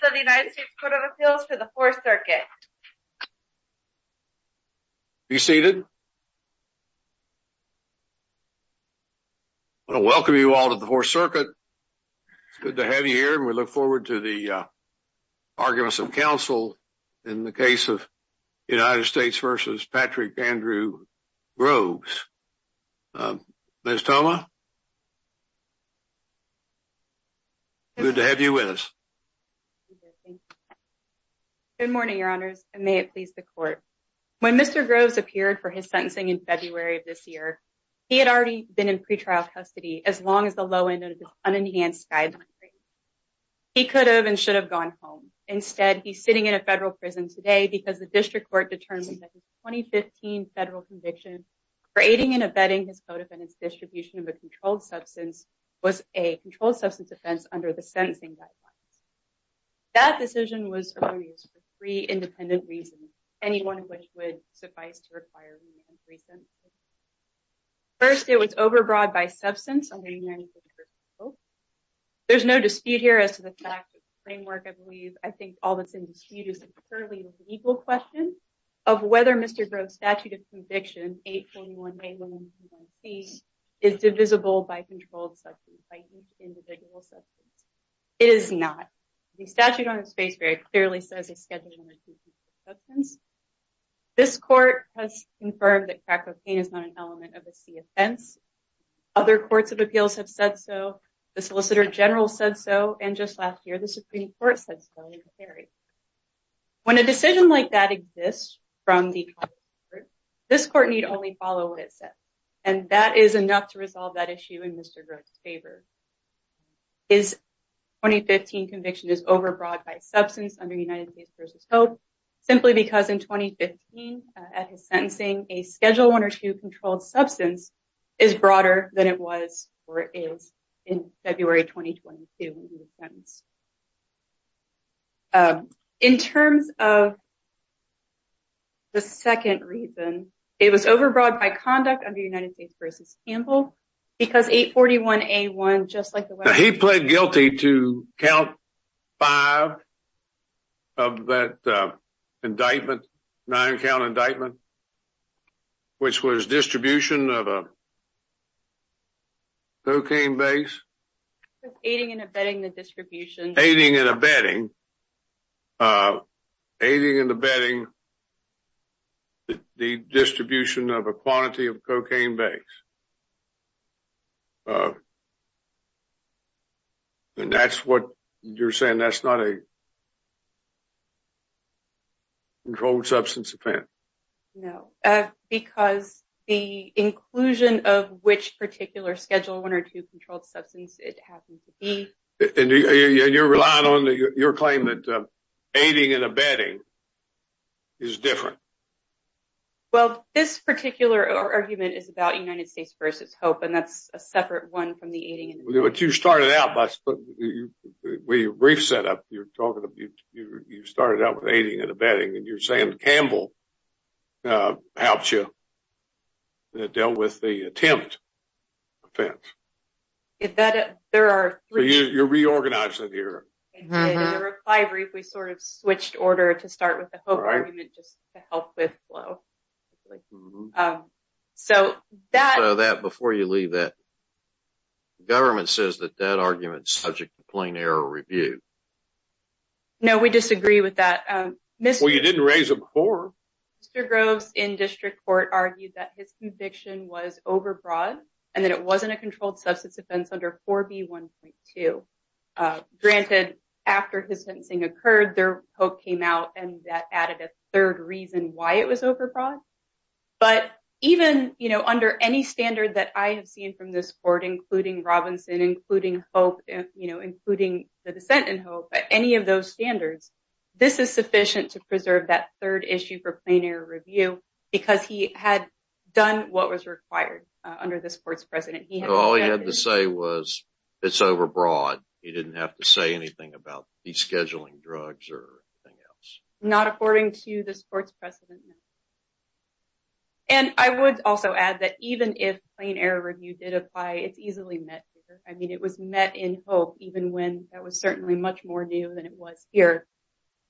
of the United States Court of Appeals for the Fourth Circuit. Be seated. I want to welcome you all to the Fourth Circuit. It's good to have you here and we look forward to the arguments of counsel in the case of United States v. Patrick Andrew Groves. Ms. Thoma? Good morning, your honors, and may it please the court. When Mr. Groves appeared for his sentencing in February of this year, he had already been in pretrial custody as long as the low end of this unenhanced guideline. He could have and should have gone home. Instead, he's sitting in a federal prison today because the district court determined that his 2015 federal conviction for aiding and abetting his co-defendant's distribution of a controlled substance was a controlled substance offense under the sentencing guidelines. That decision was for three independent reasons, any one of which would suffice to require recent. First, it was overbroad by substance. There's no dispute here as to the fact that the framework, I believe, I think all that's in dispute is a purely legal question of whether Mr. Groves' convicted conviction, 821A121C, is divisible by controlled substance, by each individual substance. It is not. The statute on his face very clearly says he's scheduled under controlled substance. This court has confirmed that crack cocaine is not an element of a C offense. Other courts of appeals have said so, the solicitor general said so, and just last year, the Supreme Court said so. When a decision like that exists from the Congress, this court need only follow what it says, and that is enough to resolve that issue in Mr. Groves' favor. His 2015 conviction is overbroad by substance under United States v. Hope, simply because in 2015, at his sentencing, a Schedule I or II controlled substance is broader than it was or is in February 2022 when he was sentenced. In terms of the second reason, it was overbroad by conduct under United States v. Campbell, because 841A121C, just like the- He pled guilty to count five of that indictment, nine count indictment, which was distribution of a cocaine base. Aiding and abetting the distribution. Aiding and abetting the distribution of a quantity of cocaine base. And that's what you're saying, that's not a offense? No, because the inclusion of which particular Schedule I or II controlled substance it happened to be- And you're relying on your claim that aiding and abetting is different? Well, this particular argument is about United States v. Hope, and that's a separate one from the aiding and abetting. But you started out by- When you brief set up, you started out with Campbell helped you, dealt with the attempt offense. You're reorganizing here. In the reply brief, we sort of switched order to start with the Hope argument just to help with flow. So that- So that, before you leave that, the government says that that argument's subject to plain error review. No, we disagree with that. Well, you didn't raise it before. Mr. Groves in district court argued that his conviction was overbroad and that it wasn't a controlled substance offense under 4B1.2. Granted, after his sentencing occurred, their Hope came out and that added a third reason why it was overbroad. But even under any standard that I have seen from this court, including Robinson, including Hope, including the dissent in Hope, any of those standards, this is sufficient to preserve that third issue for plain error review because he had done what was required under this court's precedent. All he had to say was it's overbroad. He didn't have to say anything about de-scheduling drugs or anything else. Not according to this court's precedent. And I would also add that even if plain error review did apply, it's easily met here. I mean, it was met in Hope even when that was certainly much more new than it was here.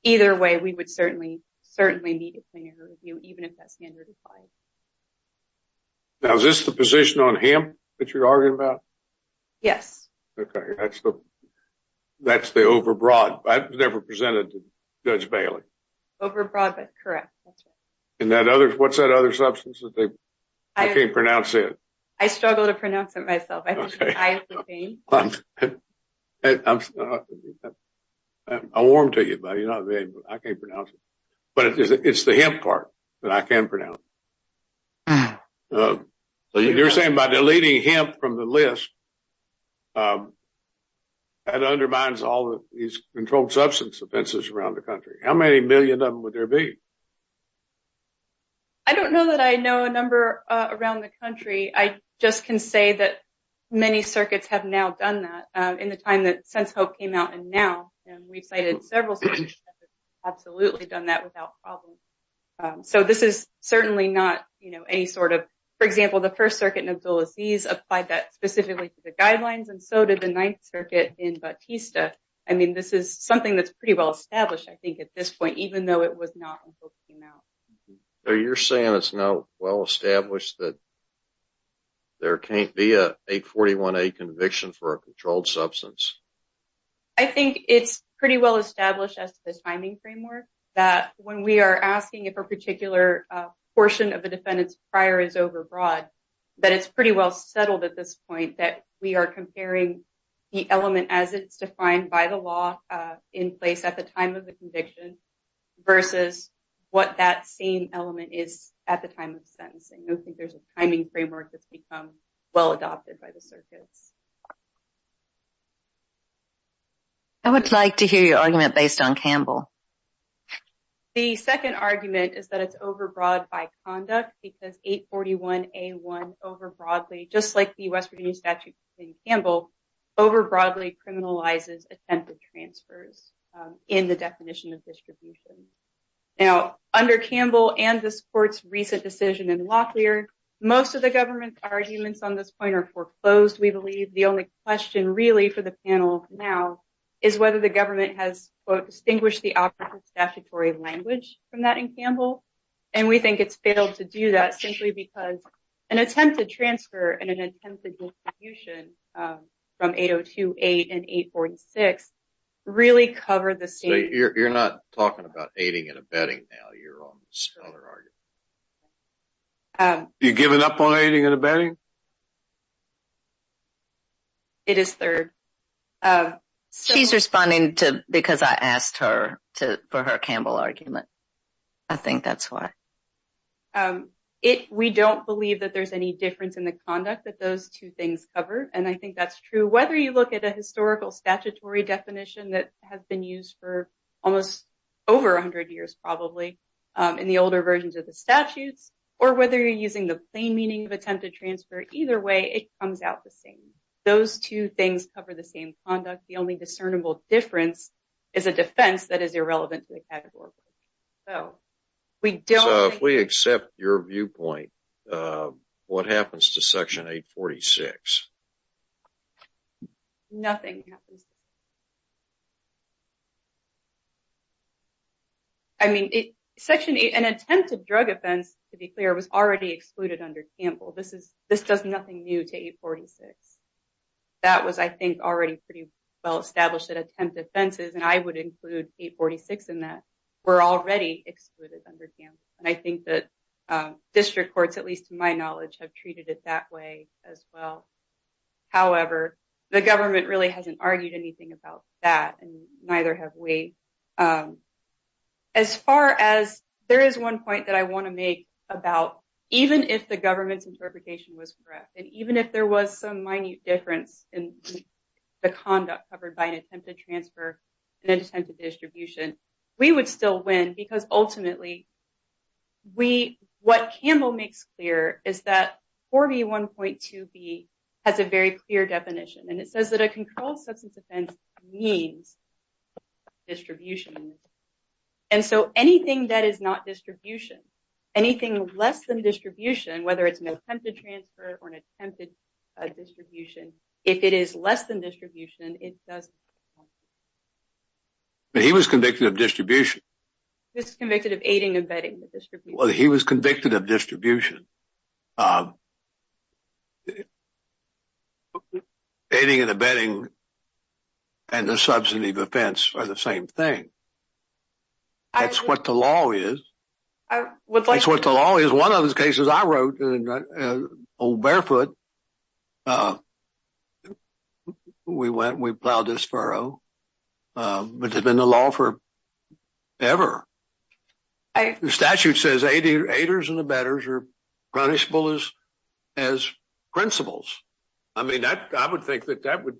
Either way, we would certainly, certainly need a plain error review, even if that standard applied. Now, is this the position on hemp that you're arguing about? Yes. Okay. That's the- That's the overbroad. I've never presented to Judge Bailey. Overbroad, but correct. That's right. And that other- What's that other substance that they- I can't pronounce it. I struggle to pronounce it myself. I think it's isoprene. I'll warn to you, buddy. I can't pronounce it. But it's the hemp part that I can pronounce. You're saying by deleting hemp from the list, that undermines all of these controlled substance offenses around the country. How many million of them would there be? I don't know that I know a number around the country. I just can say that many circuits have now done that in the time that- since Hope came out and now. And we've cited several circuits that have absolutely done that without problem. So, this is certainly not any sort of- For example, the First Circuit in Abdulaziz applied that specifically to the guidelines and so did the Ninth Circuit in Batista. I mean, this is something that's pretty well established, I think, at this point, even though it was not until it came out. So, you're saying it's now well established that there can't be a 841A conviction for a controlled substance? I think it's pretty well established as the timing framework that when we are asking if a particular portion of the defendant's prior is overbroad, that it's pretty well settled at this point that we are comparing the element as it's defined by the law in place at the time of the conviction versus what that same element is at the time of sentencing. I don't think there's a timing framework that's become well adopted by the circuits. I would like to hear your argument based on Campbell. The second argument is that it's overbroad by conduct because 841A1 overbroadly, just like the West Virginia statute in Campbell, overbroadly criminalizes attempted transfers in the definition of distribution. Now, under Campbell and this court's recent decision in Locklear, most of the government's arguments on this point are foreclosed, we believe. The only question really for the panel now is whether the government has, quote, distinguished the opposite statutory language from that in Campbell, and we think it's failed to do that simply because an attempted transfer and an attempted distribution from 802.8 and 846 really covered the same. You're not talking about aiding and abetting now, you're on the scholar argument. You're giving up on aiding and abetting? It is third. She's responding because I asked her for her Campbell argument. I think that's why. We don't believe that there's any difference in the conduct that those two things cover, and I think that's true. Whether you look at a historical statutory definition that has been used for almost over 100 years probably in the older versions of the statutes, or whether you're playing meaning of attempted transfer, either way, it comes out the same. Those two things cover the same conduct. The only discernible difference is a defense that is irrelevant. If we accept your viewpoint, what happens to section 846? Nothing happens. An attempted drug offense, to be clear, was already excluded under Campbell. This does nothing new to 846. That was, I think, already pretty well established that attempted offenses, and I would include 846 in that, were already excluded under Campbell. I think that district courts, at least to my knowledge, have treated it that way as well. However, the government really hasn't argued anything about that, and neither have we. There is one point that I want to make about even if the government's interpretation was correct, and even if there was some minute difference in the conduct covered by an attempted transfer and an attempted distribution, we would still win because ultimately what Campbell makes clear is that 4B1.2B has a very clear definition, and it says that a controlled substance offense means distribution, and so anything that is not distribution, anything less than distribution, whether it's an attempted transfer or an attempted distribution, if it is less than distribution, it doesn't count. He was convicted of distribution. He was convicted of aiding and abetting the distribution. He was convicted of distribution. Aiding and abetting and the substantive offense are the same thing. That's what the law is. That's what the law is. One of those cases I wrote in Old Barefoot, uh, we went and we plowed this furrow, but it's been the law forever. The statute says aiders and abetters are punishable as principles. I mean, I would think that that would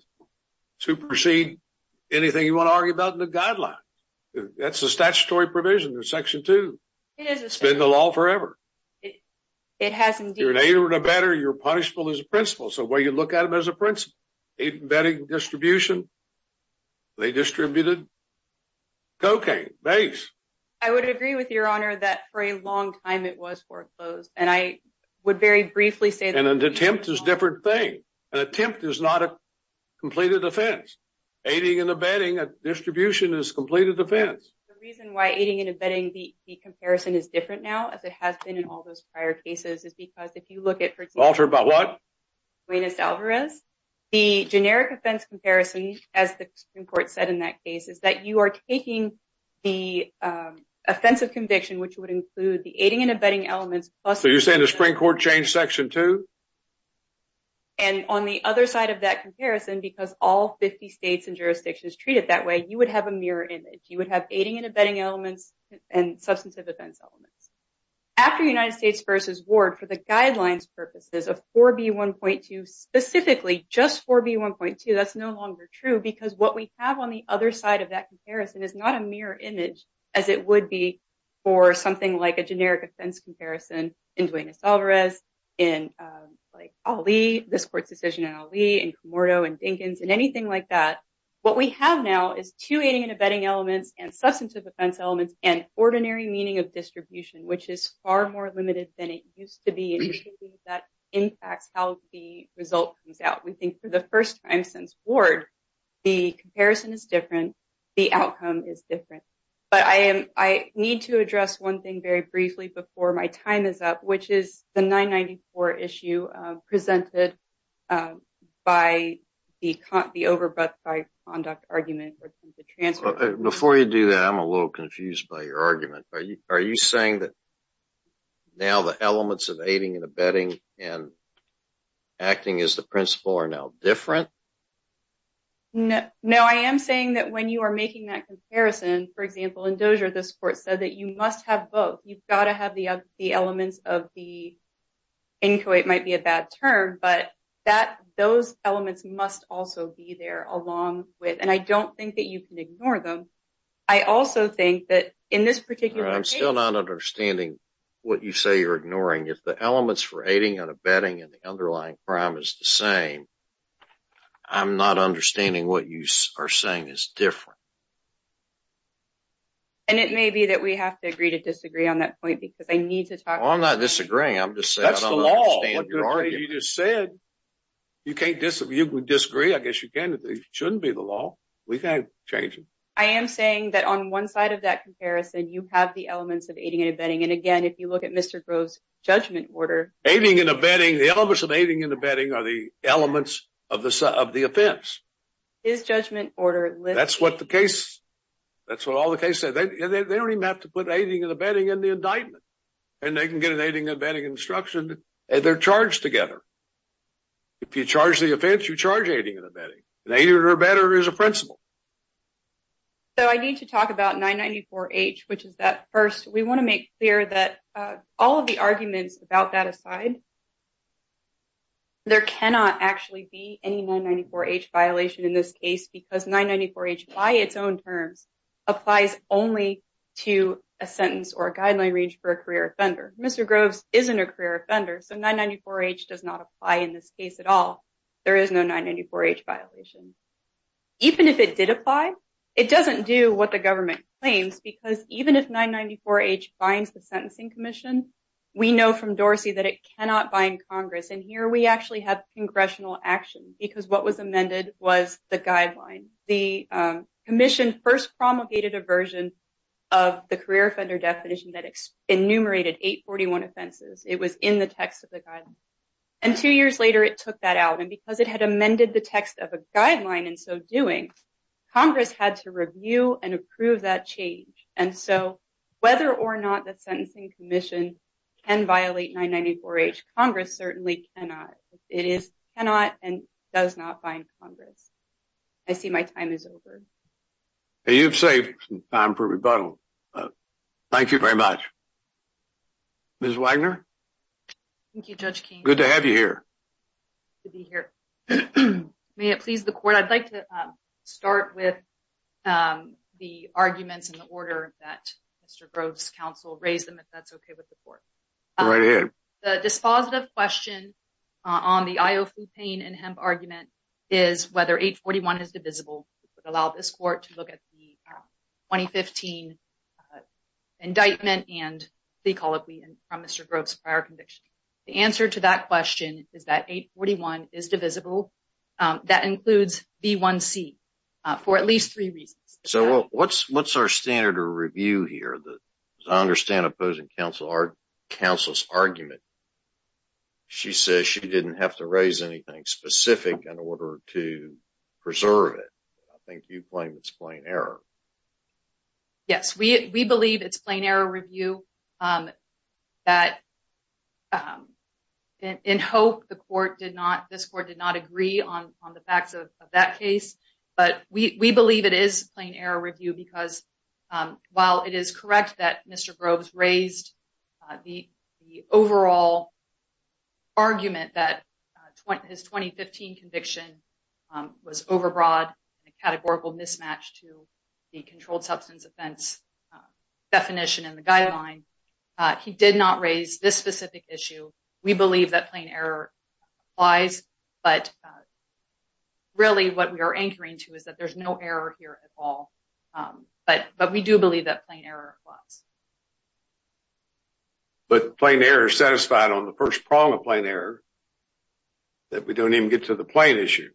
supersede anything you want to argue about in the guideline. That's the statutory provision in Section 2. It's been the law forever. It has indeed... You're an aider and abetter, you're punishable as a principle, so why you look at them as a principle? Aiding and abetting, distribution, they distributed cocaine, base. I would agree with your honor that for a long time it was foreclosed, and I would very briefly say... An attempt is a different thing. An attempt is not a completed offense. Aiding and abetting, a distribution is a completed offense. The reason why aiding and abetting, the comparison is different now, as it has been in all those prior cases, is because if you look at, for example... Walter, about what? ...Juanes Alvarez, the generic offense comparison, as the Supreme Court said in that case, is that you are taking the offensive conviction, which would include the aiding and abetting elements... So you're saying the Supreme Court changed Section 2? And on the other side of that comparison, because all 50 states and jurisdictions treat it that way, you would have a mirror image. You would have aiding and abetting elements and substantive offense elements. After United States v. Ward, for the guidelines purposes of 4B1.2, specifically just 4B1.2, that's no longer true, because what we have on the other side of that comparison is not a mirror image as it would be for something like a generic offense comparison in Juanes Alvarez, in Ali, this court's decision in Ali, in Camordo, in Dinkins, in anything like that. What we have now is two aiding and abetting elements, and substantive offense elements, and ordinary meaning of distribution, which is far more limited than it used to be, and that impacts how the result comes out. We think, for the first time since Ward, the comparison is different, the outcome is different. But I need to address one thing before my time is up, which is the 994 issue presented by the overbought by conduct argument. Before you do that, I'm a little confused by your argument. Are you saying that now the elements of aiding and abetting and acting as the principal are now different? No, I am saying that when you are making that comparison, for example, in Dozier, this court said that you must have both. You've got to have the elements of the, inchoate might be a bad term, but those elements must also be there along with, and I don't think that you can ignore them. I also think that in this particular case- I'm still not understanding what you say you're ignoring. If the elements for aiding and abetting and the underlying crime is the same, I'm not understanding what you are saying is different. And it may be that we have to agree to disagree on that point because I need to talk- I'm not disagreeing. I'm just saying- That's the law. You just said you can't disagree. I guess you can if it shouldn't be the law. We can't change it. I am saying that on one side of that comparison, you have the elements of aiding and abetting. And again, if you look at Mr. Grove's judgment order- Aiding and abetting, the elements of aiding and abetting are the elements of the offense. His judgment order- That's what the case- That's what all the cases- They don't even have to put aiding and abetting in the indictment. And they can get an aiding and abetting instruction and they're charged together. If you charge the offense, you charge aiding and abetting. And aiding and abetting is a principle. So I need to talk about 994-H, which is that first- We want to make clear that all of the arguments about that aside, there cannot actually be any 994-H violation in this case because 994-H by its own terms applies only to a sentence or a guideline range for a career offender. Mr. Grove's isn't a career offender, so 994-H does not apply in this case at all. There is no 994-H violation. Even if it did apply, it doesn't do what the government claims because even if 994-H binds the Sentencing Commission, we know from Dorsey that it cannot bind Congress. And here, we actually have congressional action because what was amended was the guideline. The commission first promulgated a version of the career offender definition that enumerated 841 offenses. It was in the text of the guideline. And two years later, it took that out. And because it had amended the text of a guideline in so doing, Congress had to review and approve that change. And so whether or not the Sentencing Commission can violate 994-H, Congress certainly cannot. It is cannot and does not bind Congress. I see my time is over. Hey, you've saved some time for rebuttal. Thank you very much. Ms. Wagner? Thank you, Judge King. Good to have you here. Good to be here. May it please the court, I'd like to start with the arguments in the order that Mr. Grove's counsel raised them, if that's okay with the court. Go right ahead. The dispositive question on the IO flu pain and hemp argument is whether 841 is divisible, which would allow this court to look at the 2015 indictment and plea colloquy from Mr. Grove's prior conviction. The answer to that question is that 841 is divisible. That includes B1c for at least three reasons. So what's our standard of review here? I understand opposing counsel's argument. She says she didn't have to raise anything specific in order to preserve it. I think you claim it's plain error. Yes, we believe it's plain error review. In hope, this court did not agree on the facts of that error review because while it is correct that Mr. Grove's raised the overall argument that his 2015 conviction was overbroad and a categorical mismatch to the controlled substance offense definition in the guideline, he did not raise this specific issue. We believe that plain error applies, but really what we are anchoring to is that there's no error here at all, but we do believe that plain error applies. But plain error is satisfied on the first prong of plain error, that we don't even get to the plain issue.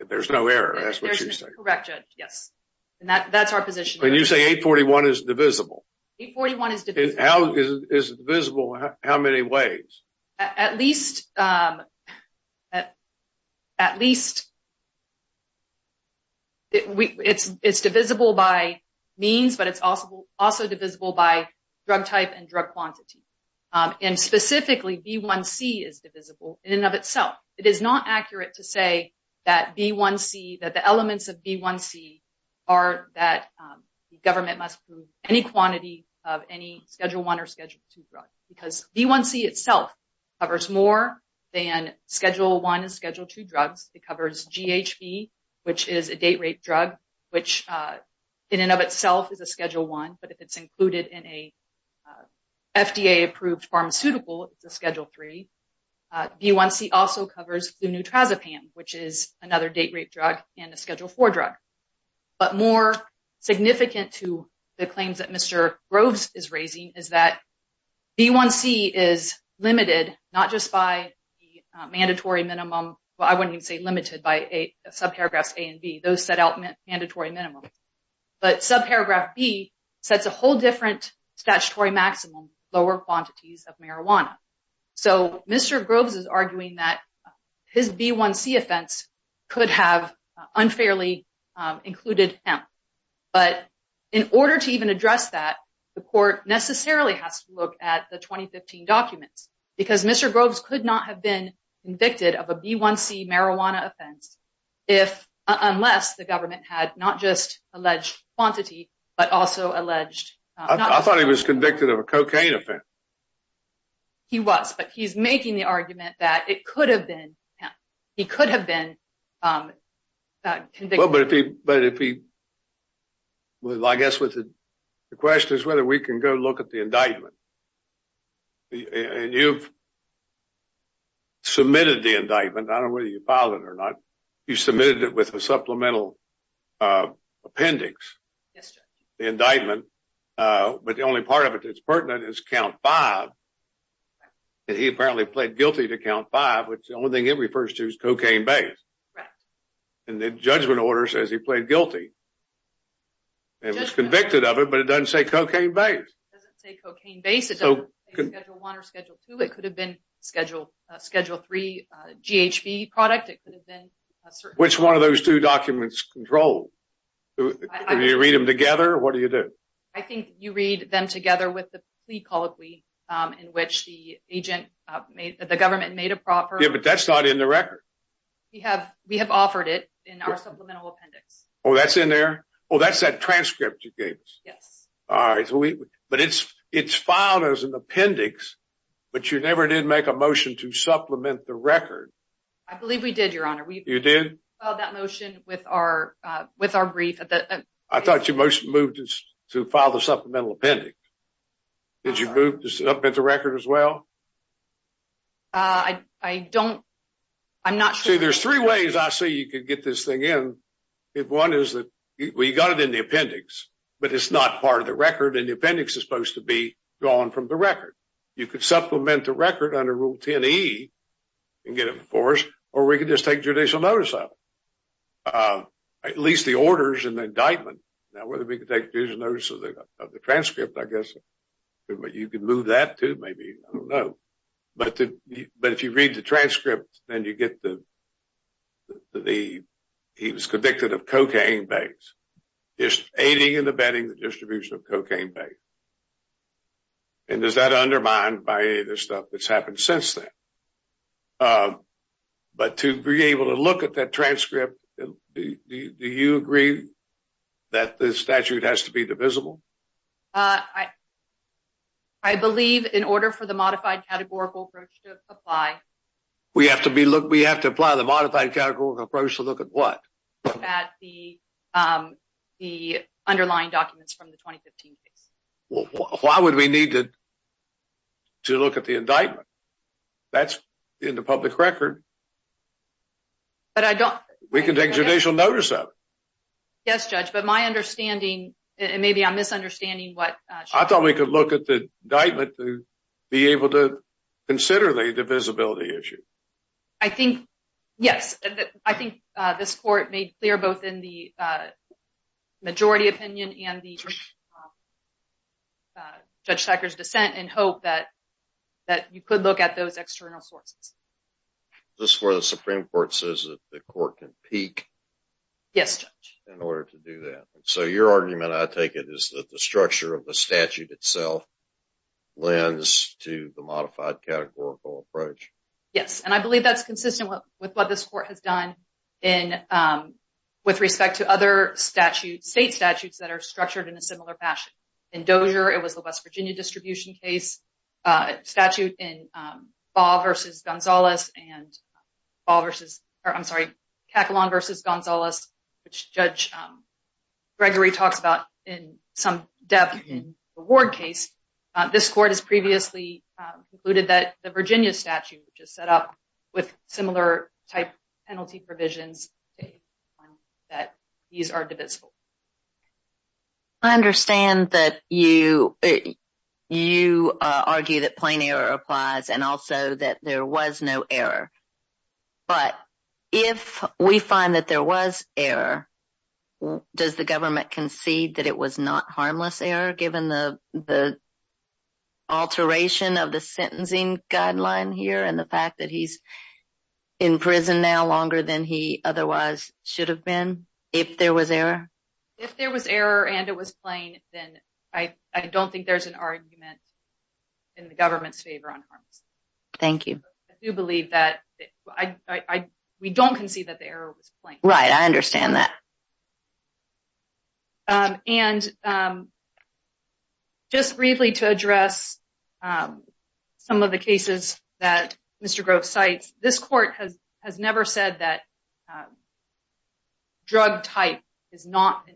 If there's no error, that's what you say. Correct, Judge, yes, and that's our position. When you say 841 is divisible, is it divisible how many ways? At least it's divisible by means, but it's also divisible by drug type and drug quantity. Specifically, B1C is divisible in and of itself. It is not accurate to say that the elements of B1C are that the government must prove any quantity of any Schedule 1 or Schedule 2 drug because B1C itself covers more than Schedule 1 and Schedule 2 drugs. It covers GHB, which is a date-rape drug, which in and of itself is a Schedule 1, but if it's included in a FDA-approved pharmaceutical, it's a Schedule 3. B1C also covers flunutrazepam, which is another date-rape drug and a Schedule 4 drug. But more significant to the claims that Mr. Groves is arguing is that B1C is limited not just by the mandatory minimum, but I wouldn't even say limited by subparagraphs A and B. Those set out mandatory minimums. But subparagraph B sets a whole different statutory maximum, lower quantities of marijuana. So Mr. Groves is arguing that his B1C offense could have unfairly included hemp. But in order to even address that, the court necessarily has to look at the 2015 documents because Mr. Groves could not have been convicted of a B1C marijuana offense unless the government had not just alleged quantity, but also alleged... I thought he was convicted of a cocaine offense. He was, but he's making the argument that it could have been hemp. He could have been convicted. Well, but if he... I guess the question is whether we can go look at the indictment. And you've submitted the indictment. I don't know whether you filed it or not. You submitted it with a supplemental appendix. Yes, sir. The indictment, but the only part of it that's pertinent is count five. He apparently pled guilty to count five, which the only thing it refers to is cocaine-based. And the judgment order says he pled guilty. And was convicted of it, but it doesn't say cocaine-based. It doesn't say cocaine-based. It doesn't say Schedule 1 or Schedule 2. It could have been Schedule 3 GHB product. Which one of those two documents control? Do you read them together? What do you do? I think you read them together with the plea colloquy in which the government made a proper... Yeah, but that's not in the record. We have offered it in our supplemental appendix. Oh, that's in there? Oh, that's that transcript you gave us. Yes. All right. But it's filed as an appendix, but you never did make a motion to supplement the record. I believe we did, Your Honor. You did? We filed that motion with our brief at the... I thought you moved to file supplemental appendix. Did you move this up at the record as well? I don't... I'm not sure. See, there's three ways I see you could get this thing in. One is that we got it in the appendix, but it's not part of the record. And the appendix is supposed to be gone from the record. You could supplement the record under Rule 10E and get it enforced, or we could just take judicial notice of it. At least the orders and the indictment. Now, whether we could take judicial notice of the transcript, I guess, but you could move that too, maybe. I don't know. But if you read the transcript, then you get the... He was convicted of cocaine bags, just aiding and abetting the distribution of cocaine bags. And is that undermined by any of the stuff that's happened since then? But to be able to look at that transcript, do you agree that the statute has to be divisible? I believe in order for the modified categorical approach to apply... We have to apply the modified categorical approach to look at what? At the underlying documents from the 2015 case. Well, why would we need to look at the indictment? That's in the public record. But I don't... We can take judicial notice of it. Yes, Judge, but my understanding, and maybe I'm misunderstanding what... I thought we could look at the indictment to be able to consider the divisibility issue. I think, yes, I think this court made clear both in the majority opinion and the Judge Tucker's dissent and hope that you could look at those external sources. Is this where the Supreme Court says that the court can peak? Yes, Judge. In order to do that. So your argument, I take it, is that the structure of the statute itself lends to the modified categorical approach. Yes, and I believe that's consistent with what this court has done with respect to other state statutes that are structured in a similar fashion. In Dozier, it was the West Virginia distribution case. Statute in Ball v. Gonzalez and Ball v. or, I'm sorry, Cakalon v. Gonzalez, which Judge Gregory talks about in some depth in the Ward case. This court has previously concluded that the Virginia statute, which is set up with similar type penalty provisions, that these are divisible. I understand that you argue that plain error applies and also that there was no error. But if we find that there was error, does the government concede that it was not harmless error given the alteration of the sentencing guideline here and the fact that he's in prison now longer than he otherwise should have been if there was error? If there was error and it was plain, then I don't think there's an argument in the government's favor on harmless. Thank you. I do believe that we don't concede that the error was plain. Right, I understand that. Just briefly to address some of the cases that Mr. Grove cites, this court has never said that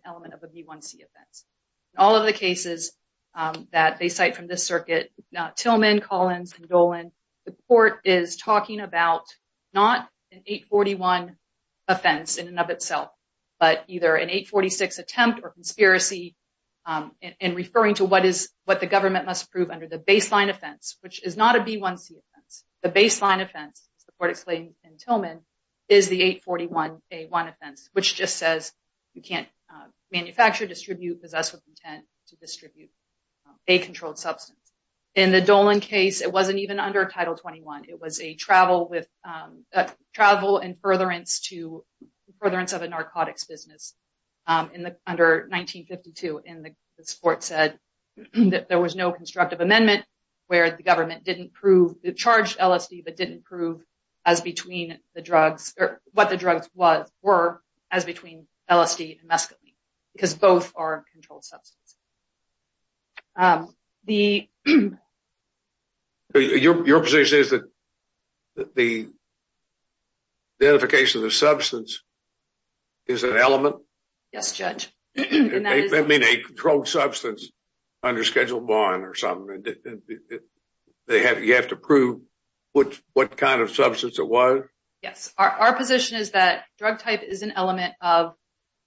element of a B1C offense. All of the cases that they cite from this circuit, Tillman, Collins, and Dolan, the court is talking about not an 841 offense in and of itself, but either an 846 attempt or conspiracy in referring to what the government must prove under the baseline offense, which is not a B1C offense. The baseline offense, as the court explained in Tillman, is the 841A1 offense, which just says you can't manufacture, distribute, possess with intent to distribute a controlled substance. In the Dolan case, it wasn't even under Title 21. It was a travel and furtherance of a narcotics business under 1952, and the court said that there was no constructive amendment where the government didn't prove the charged LSD, but didn't prove as between the drugs, or what the drugs were, as between LSD and mescaline, because both are controlled substances. Your position is that the identification of the substance is an element? Yes, Judge. That means a controlled substance under Schedule 1 or something. You have to prove what kind of substance it was? Yes. Our position is that drug type is an element of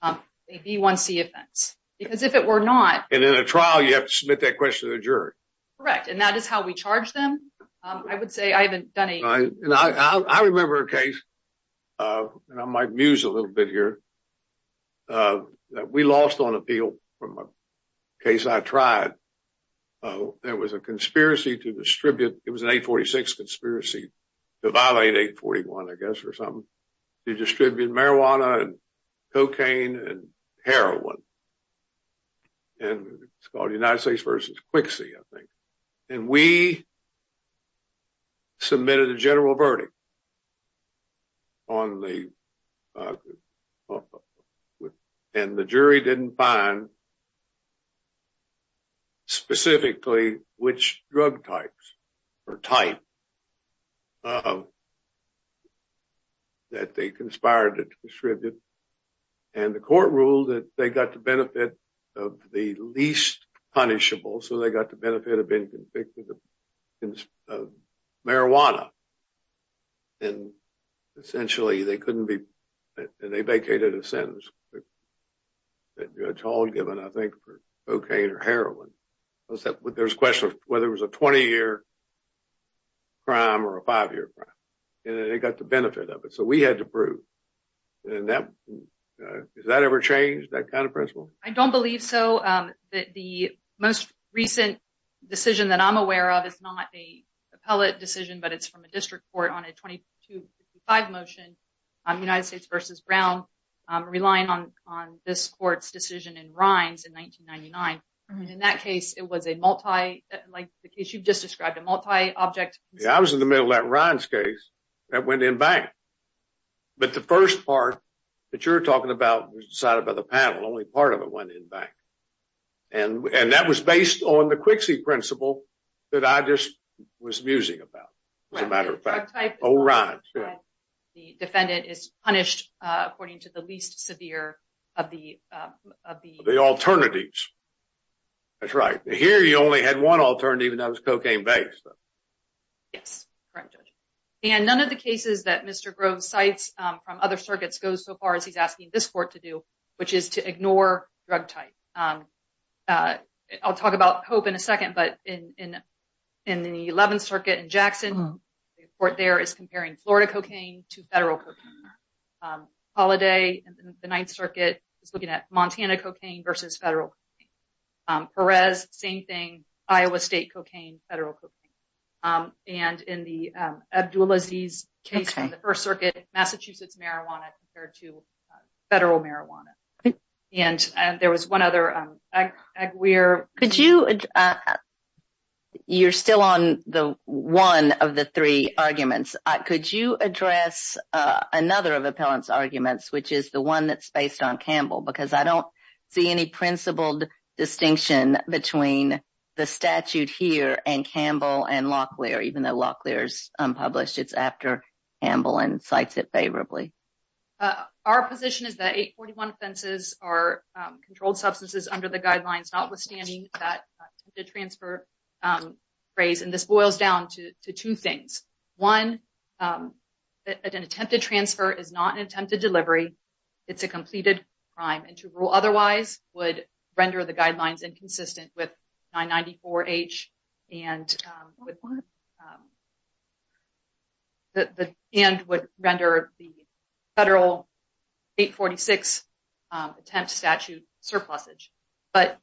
a B1C offense, because if it were not... And in a trial, you have to submit that question to the jury. Correct, and that is how we charge them. I would say I haven't done a... I remember a case, and I might muse a little bit here, that we lost on appeal from a case I tried. Oh, there was a conspiracy to distribute... It was an 846 conspiracy to violate 841, I guess, or something, to distribute marijuana, and cocaine, and heroin, and it's called United States versus Quixie, I think, and we submitted a general verdict on the... And the jury didn't find specifically which drug types or type that they conspired to distribute, and the court ruled that they got the benefit of the least punishable, so they got the benefit of being convicted of marijuana. And essentially, they couldn't be... And they vacated a sentence, a trial given, I think, for cocaine or heroin. There's a question of whether it was a 20-year crime or a five-year crime, and they got the benefit of it, so we had to prove, and that... Has that ever changed, that kind of principle? I don't believe so. The most recent decision that I'm aware of is not a district court on a 2255 motion, United States versus Brown, relying on this court's decision in Rines in 1999. In that case, it was a multi... Like the case you've just described, a multi-object... Yeah, I was in the middle of that Rines case that went in bank, but the first part that you're talking about was decided by the panel. Only part of it went in bank, and that was based on the old Rines. The defendant is punished according to the least severe of the... The alternatives. That's right. Here, you only had one alternative, and that was cocaine-based. Yes, correct, Judge. And none of the cases that Mr. Groves cites from other circuits goes so far as he's asking this court to do, which is to ignore drug type. I'll talk about the 11th Circuit in Jackson. The report there is comparing Florida cocaine to federal cocaine. Holiday in the 9th Circuit is looking at Montana cocaine versus federal cocaine. Perez, same thing, Iowa State cocaine, federal cocaine. And in the Abdulaziz case from the 1st Circuit, Massachusetts marijuana compared to federal marijuana. And there was one other... You're still on one of the three arguments. Could you address another of the appellant's arguments, which is the one that's based on Campbell? Because I don't see any principled distinction between the statute here and Campbell and Locklear, even though Locklear is unpublished. It's after Campbell and cites it favorably. Our position is that 841 offenses are controlled substances under the guidelines, notwithstanding that transfer phrase. And this boils down to two things. One, an attempted transfer is not an attempted delivery. It's a completed crime. And to rule otherwise would render the guidelines inconsistent with 994-H and would render the federal 846 attempt statute surplusage. But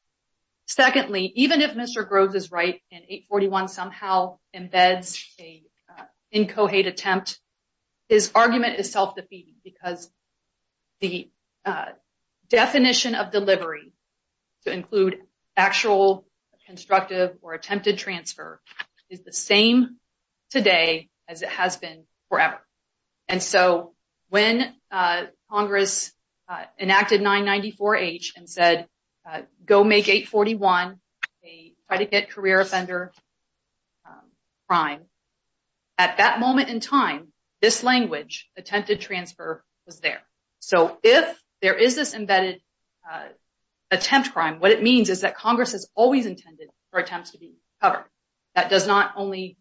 secondly, even if Mr. Groves is right and 841 somehow embeds a incohate attempt, his argument is self-defeating because the definition of delivery to include actual constructive or attempted transfer is the same today as it has been forever. And so when Congress enacted 994-H and said, go make 841 a predicate career offender crime, at that moment in time, this language, attempted transfer, was there. So if there is this embedded attempt crime, what it means is that Congress has always intended for attempts to be covered. That does not only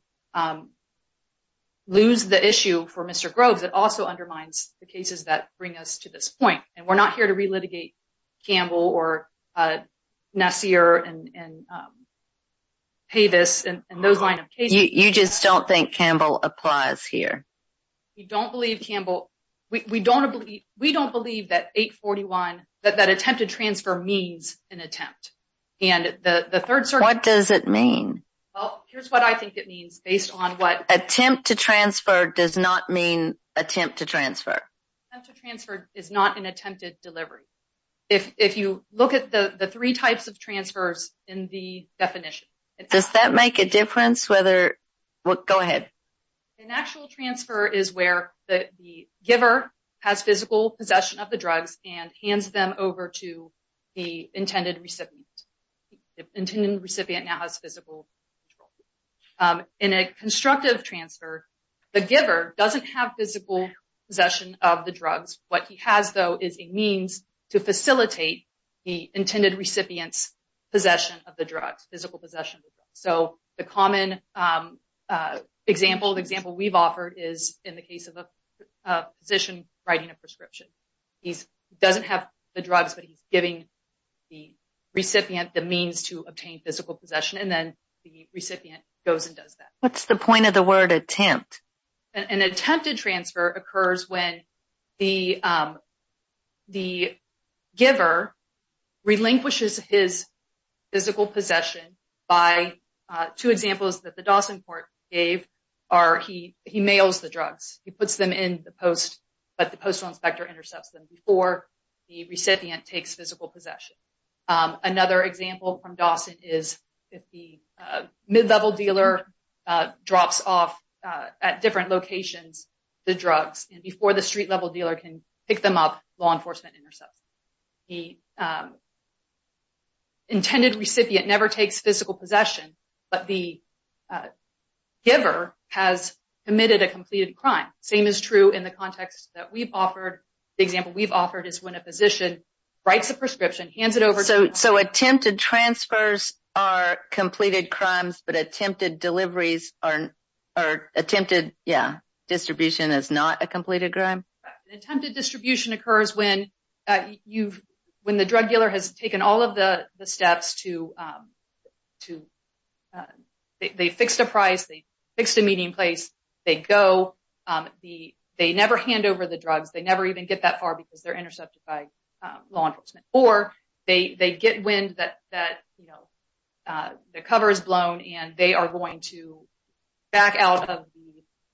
lose the issue for Mr. Groves, it also undermines the cases that bring us to this point. And we're not here to relitigate Campbell or Nassir and Pavis and those line of cases. You just don't think Campbell applies here. We don't believe Campbell. We don't believe that 841, that attempted transfer means an attempt. And the third... What does it mean? Well, here's what I think it means based on what... Attempt to transfer does not mean attempt to transfer. Attempt to transfer is not an attempted delivery. If you look at the three types of transfers in the definition... Does that make a difference whether... Go ahead. An actual transfer is where the giver has physical possession of the drugs and hands them over to the intended recipient. The intended recipient now has physical control. In a constructive transfer, the giver doesn't have physical possession of the drugs. What he has, though, is a means to facilitate the intended recipient's possession of the drugs, physical possession of the drugs. So the common example, the example we've offered is in the case of a physician writing a prescription. He doesn't have the drugs, but he's giving the recipient the means to obtain physical possession. And then the recipient goes and does that. What's the point of the word attempt? An attempted transfer occurs when the giver relinquishes his physical possession by... Two examples that the Dawson Court gave are he mails the drugs. He puts them in the post, but the postal inspector intercepts them before the recipient takes physical possession. Another example from Dawson is if the mid-level dealer drops off at different locations the drugs and before the street-level dealer can pick them up, law enforcement intercepts them. The recipient never takes physical possession, but the giver has committed a completed crime. Same is true in the context that we've offered. The example we've offered is when a physician writes a prescription, hands it over... So attempted transfers are completed crimes, but attempted deliveries are... Attempted distribution is not a completed crime? Attempted distribution occurs when the drug dealer has taken all of the steps to... They fixed a price, they fixed a meeting place, they go, they never hand over the drugs, they never even get that far because they're intercepted by law enforcement. Or they get wind that the cover is blown and they are going to back out of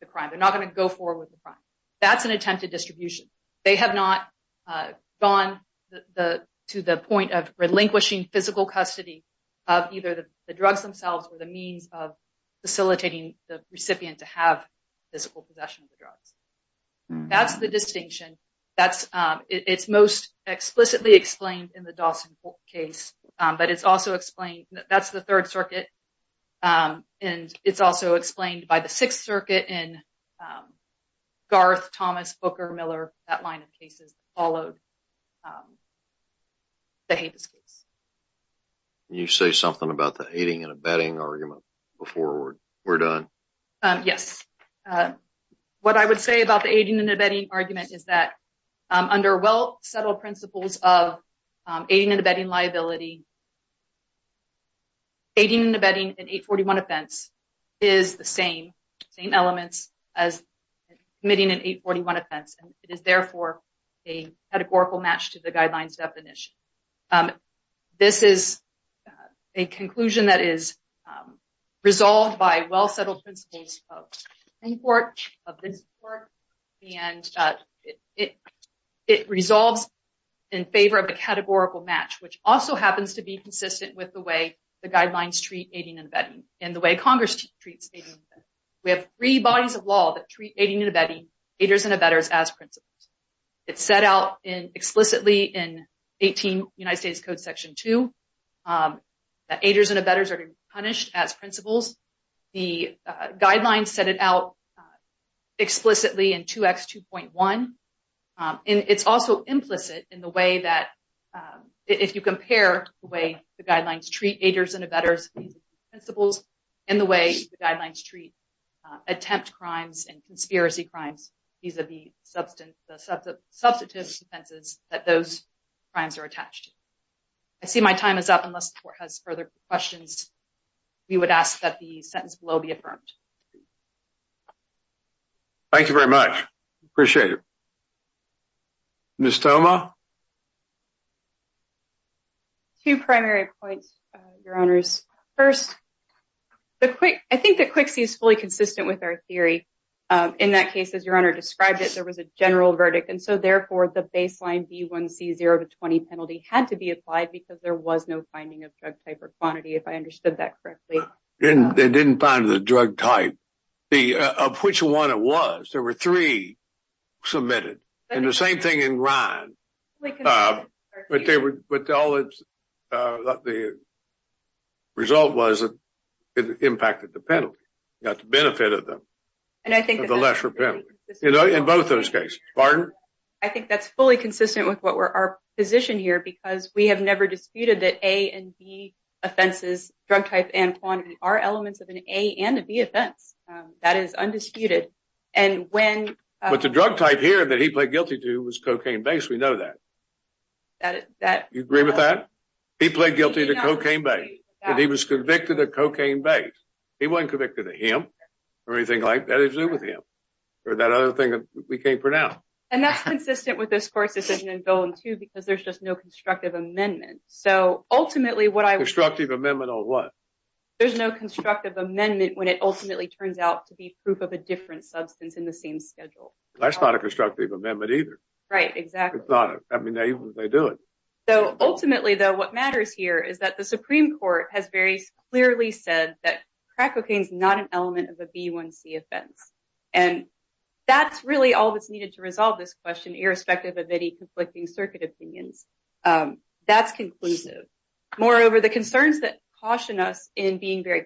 the crime. They're not going to go forward with the crime. That's an attempted distribution. They have not gone to the point of relinquishing physical custody of either the drugs themselves or the means of facilitating the recipient to have physical possession of the drugs. That's the distinction. It's most explicitly explained in the Dawson case, but it's also explained... That's the Third Circuit and it's also explained by the Sixth Circuit in Garth, Thomas, Booker, Miller, that line of cases followed the Habeas case. Can you say something about the aiding and abetting argument before we're done? Yes. What I would say about the aiding and abetting argument is that under well-settled principles of aiding and abetting liability, aiding and abetting an 841 offense is the same elements as committing an 841 offense. It is therefore a categorical match to the guidelines definition. This is a conclusion that is resolved by well-settled principles of this court and it resolves in favor of the categorical match, which also happens to be consistent with the way the guidelines treat aiding and abetting and the way Congress treats aiding and abetting. We have three bodies of law that treat aiding and abetting, aiders and abetters, as principles. It's set out explicitly in 18 United States Code Section 2 that aiders and abetters are punished as principles. The guidelines set it out explicitly in 2X2.1. It's also implicit in the way that if you compare the way the guidelines treat aiders and abetters principles and the way the guidelines treat attempt crimes and conspiracy crimes, these are the substantive defenses that those crimes are attached. I see my time is up unless the court has further questions. We would ask that the sentence below be affirmed. Thank you very much. Appreciate it. Ms. Thoma. Two primary points, your honors. First, I think that QC is fully consistent with our theory. In that case, as your honor described it, there was a general verdict. Therefore, the baseline B1C 0 to 20 penalty had to be applied because there was no finding of drug type or quantity, if I understood that correctly. They didn't find the drug type of which one it was. There were three submitted. The same thing in Ryan. The result was that it impacted the penalty. You got the benefit of the lesser penalty in both those cases. Pardon? I think that's fully consistent with our position here because we have never disputed that A and B offenses, drug type and quantity, are elements of an A and a B offense. That is undisputed. But the drug type here that he played guilty to was cocaine-based. We know that. You agree with that? He played guilty to cocaine-based. He was convicted of cocaine-based. He wasn't convicted of him or anything like that. It was with him or that other thing that we can't pronounce. That's consistent with this court's decision in Bill 2 because there's just no constructive amendment. Constructive amendment on what? There's no constructive amendment when it ultimately turns out to be proof of a different substance in the same schedule. That's not a constructive amendment either. Right, exactly. I mean, they do it. Ultimately, what matters here is that the Supreme Court has very clearly said that crack cocaine is not an element of a B1C offense. That's really all that's needed to resolve this question, irrespective of any conflicting circuit opinions. That's conclusive. Moreover, the concerns that caution us in being very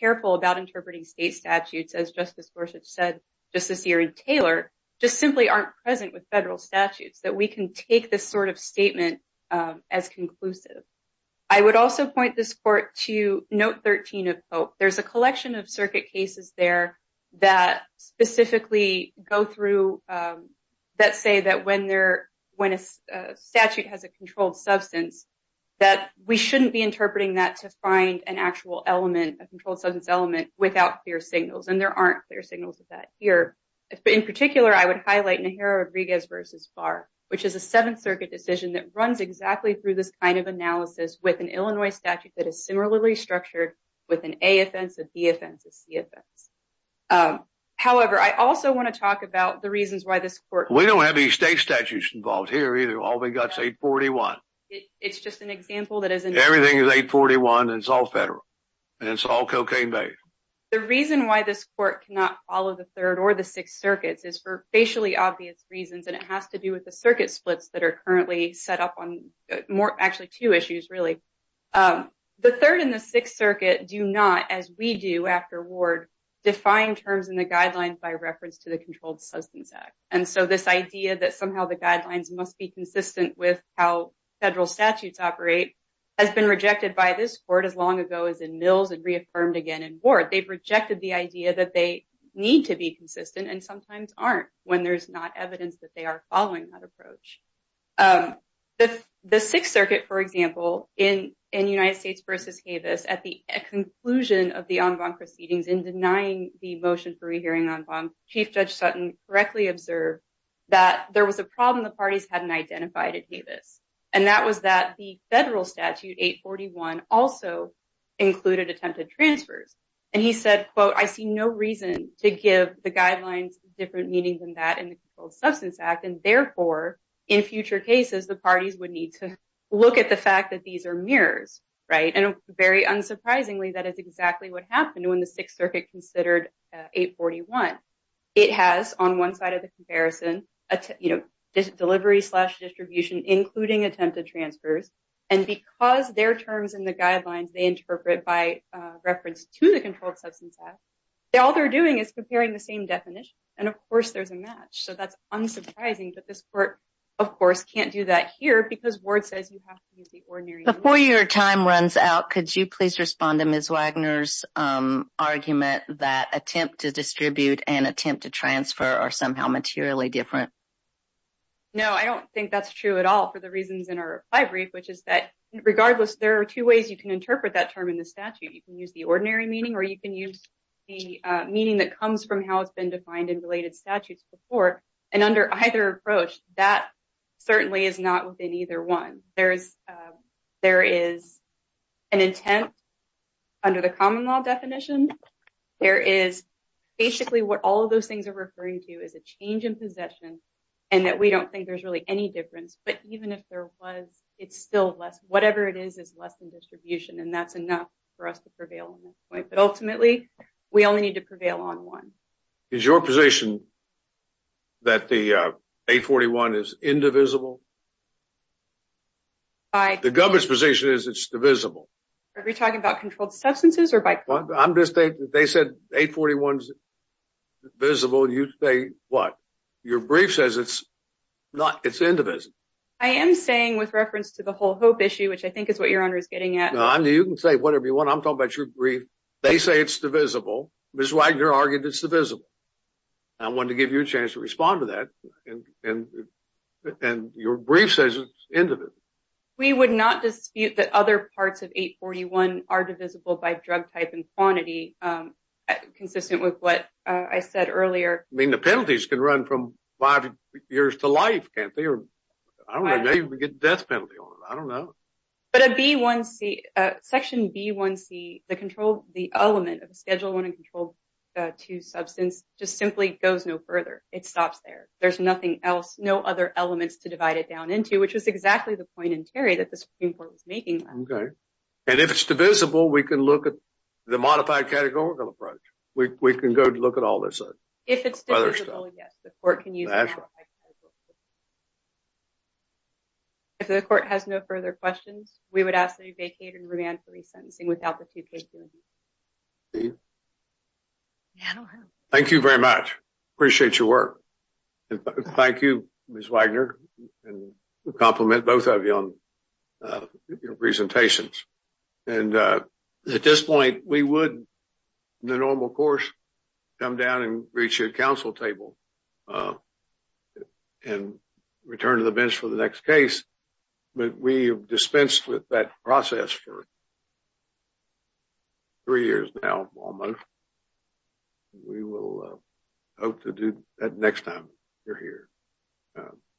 careful about interpreting state statutes, as Justice Gorsuch said just this year in Taylor, just simply aren't present with federal statutes, that we can take this sort of statement as conclusive. I would also point this court to Note 13 of Pope. There's a collection of circuit cases there that specifically go through that say that when a statute has a controlled substance, that we shouldn't be interpreting that to find an actual element, a controlled substance element, without clear signals. There aren't clear signals of that here. In particular, I would highlight Najera Rodriguez v. Barr, which is a Seventh Circuit decision that runs exactly through this kind of analysis with an Illinois statute that is similarly structured with an A offense, a B offense, a C offense. However, I also want to talk about the reasons why this court- We don't have any state statutes involved here either. All we got is 841. It's just an example that isn't- Everything is 841 and it's all federal and it's all cocaine-based. The reason why this court cannot follow the Third or the Sixth Circuits is for facially obvious reasons, and it has to do with the circuit splits that are currently set up on more- actually two issues, really. The Third and the Sixth Circuit do not, as we do after Ward, define terms in the guidelines by reference to the Controlled Substance Act. And so this idea that somehow the guidelines must be consistent with how this court as long ago as in Mills and reaffirmed again in Ward, they've rejected the idea that they need to be consistent and sometimes aren't when there's not evidence that they are following that approach. The Sixth Circuit, for example, in United States v. Havis, at the conclusion of the en banc proceedings in denying the motion for rehearing en banc, Chief Judge Sutton correctly observed that there was a problem the parties hadn't identified at Havis, and that was that the federal statute 841 also included attempted transfers. And he said, quote, I see no reason to give the guidelines different meaning than that in the Controlled Substance Act, and therefore in future cases, the parties would need to look at the fact that these are mirrors, right? And very unsurprisingly, that is exactly what happened when the Sixth Circuit considered 841. It has, on one side of the comparison, you know, delivery slash distribution, including attempted transfers, and because their terms in the guidelines they interpret by reference to the Controlled Substance Act, all they're doing is comparing the same definition, and of course there's a match. So that's unsurprising that this court, of course, can't do that here because Ward says you have to use the ordinary... Before your time runs out, could you please respond to Ms. Wagner's argument that attempt to distribute and attempt to transfer are somehow materially different? No, I don't think that's true at all for the reasons in our reply brief, which is that regardless, there are two ways you can interpret that term in the statute. You can use the ordinary meaning or you can use the meaning that comes from how it's been defined in related statutes before, and under either approach, that certainly is not within either one. There is an intent under the common law definition. There is basically what all of those things are referring to is a change in possession and that we don't think there's really any difference, but even if there was, it's still less. Whatever it is is less than distribution and that's enough for us to prevail on that point, but ultimately we only need to prevail on one. Is your position that the 841 is indivisible? The government's position is it's divisible. Are we talking about controlled substances or by... I'm just saying that they said 841 is divisible and you say what? Your brief says it's not, it's indivisible. I am saying with reference to the whole hope issue, which I think is what your honor is getting at. No, you can say whatever you want. I'm talking about your brief. They say it's divisible. Ms. Wagner argued it's divisible. I wanted to give you a chance to brief says it's indivisible. We would not dispute that other parts of 841 are divisible by drug type and quantity, consistent with what I said earlier. I mean the penalties can run from five years to life, can't they? Or I don't know, maybe we get a death penalty on it. I don't know. But a B1C, section B1C, the element of a Schedule I and Control II substance just simply goes no other elements to divide it down into, which was exactly the point in Terry that the Supreme Court was making. Okay. And if it's divisible, we can look at the modified categorical approach. We can go look at all this other stuff. If it's divisible, yes, the court can use... If the court has no further questions, we would ask that you vacate and remand for resentencing without the two cases. Steve? Yeah, I don't have... Thank you very much. Appreciate your work. And thank you, Ms. Wagner, and we compliment both of you on your presentations. And at this point, we would, in the normal course, come down and reach you at council table and return to the bench for the next case. But we have dispensed with that process for three years now, almost. We will hope to do that next time you're here.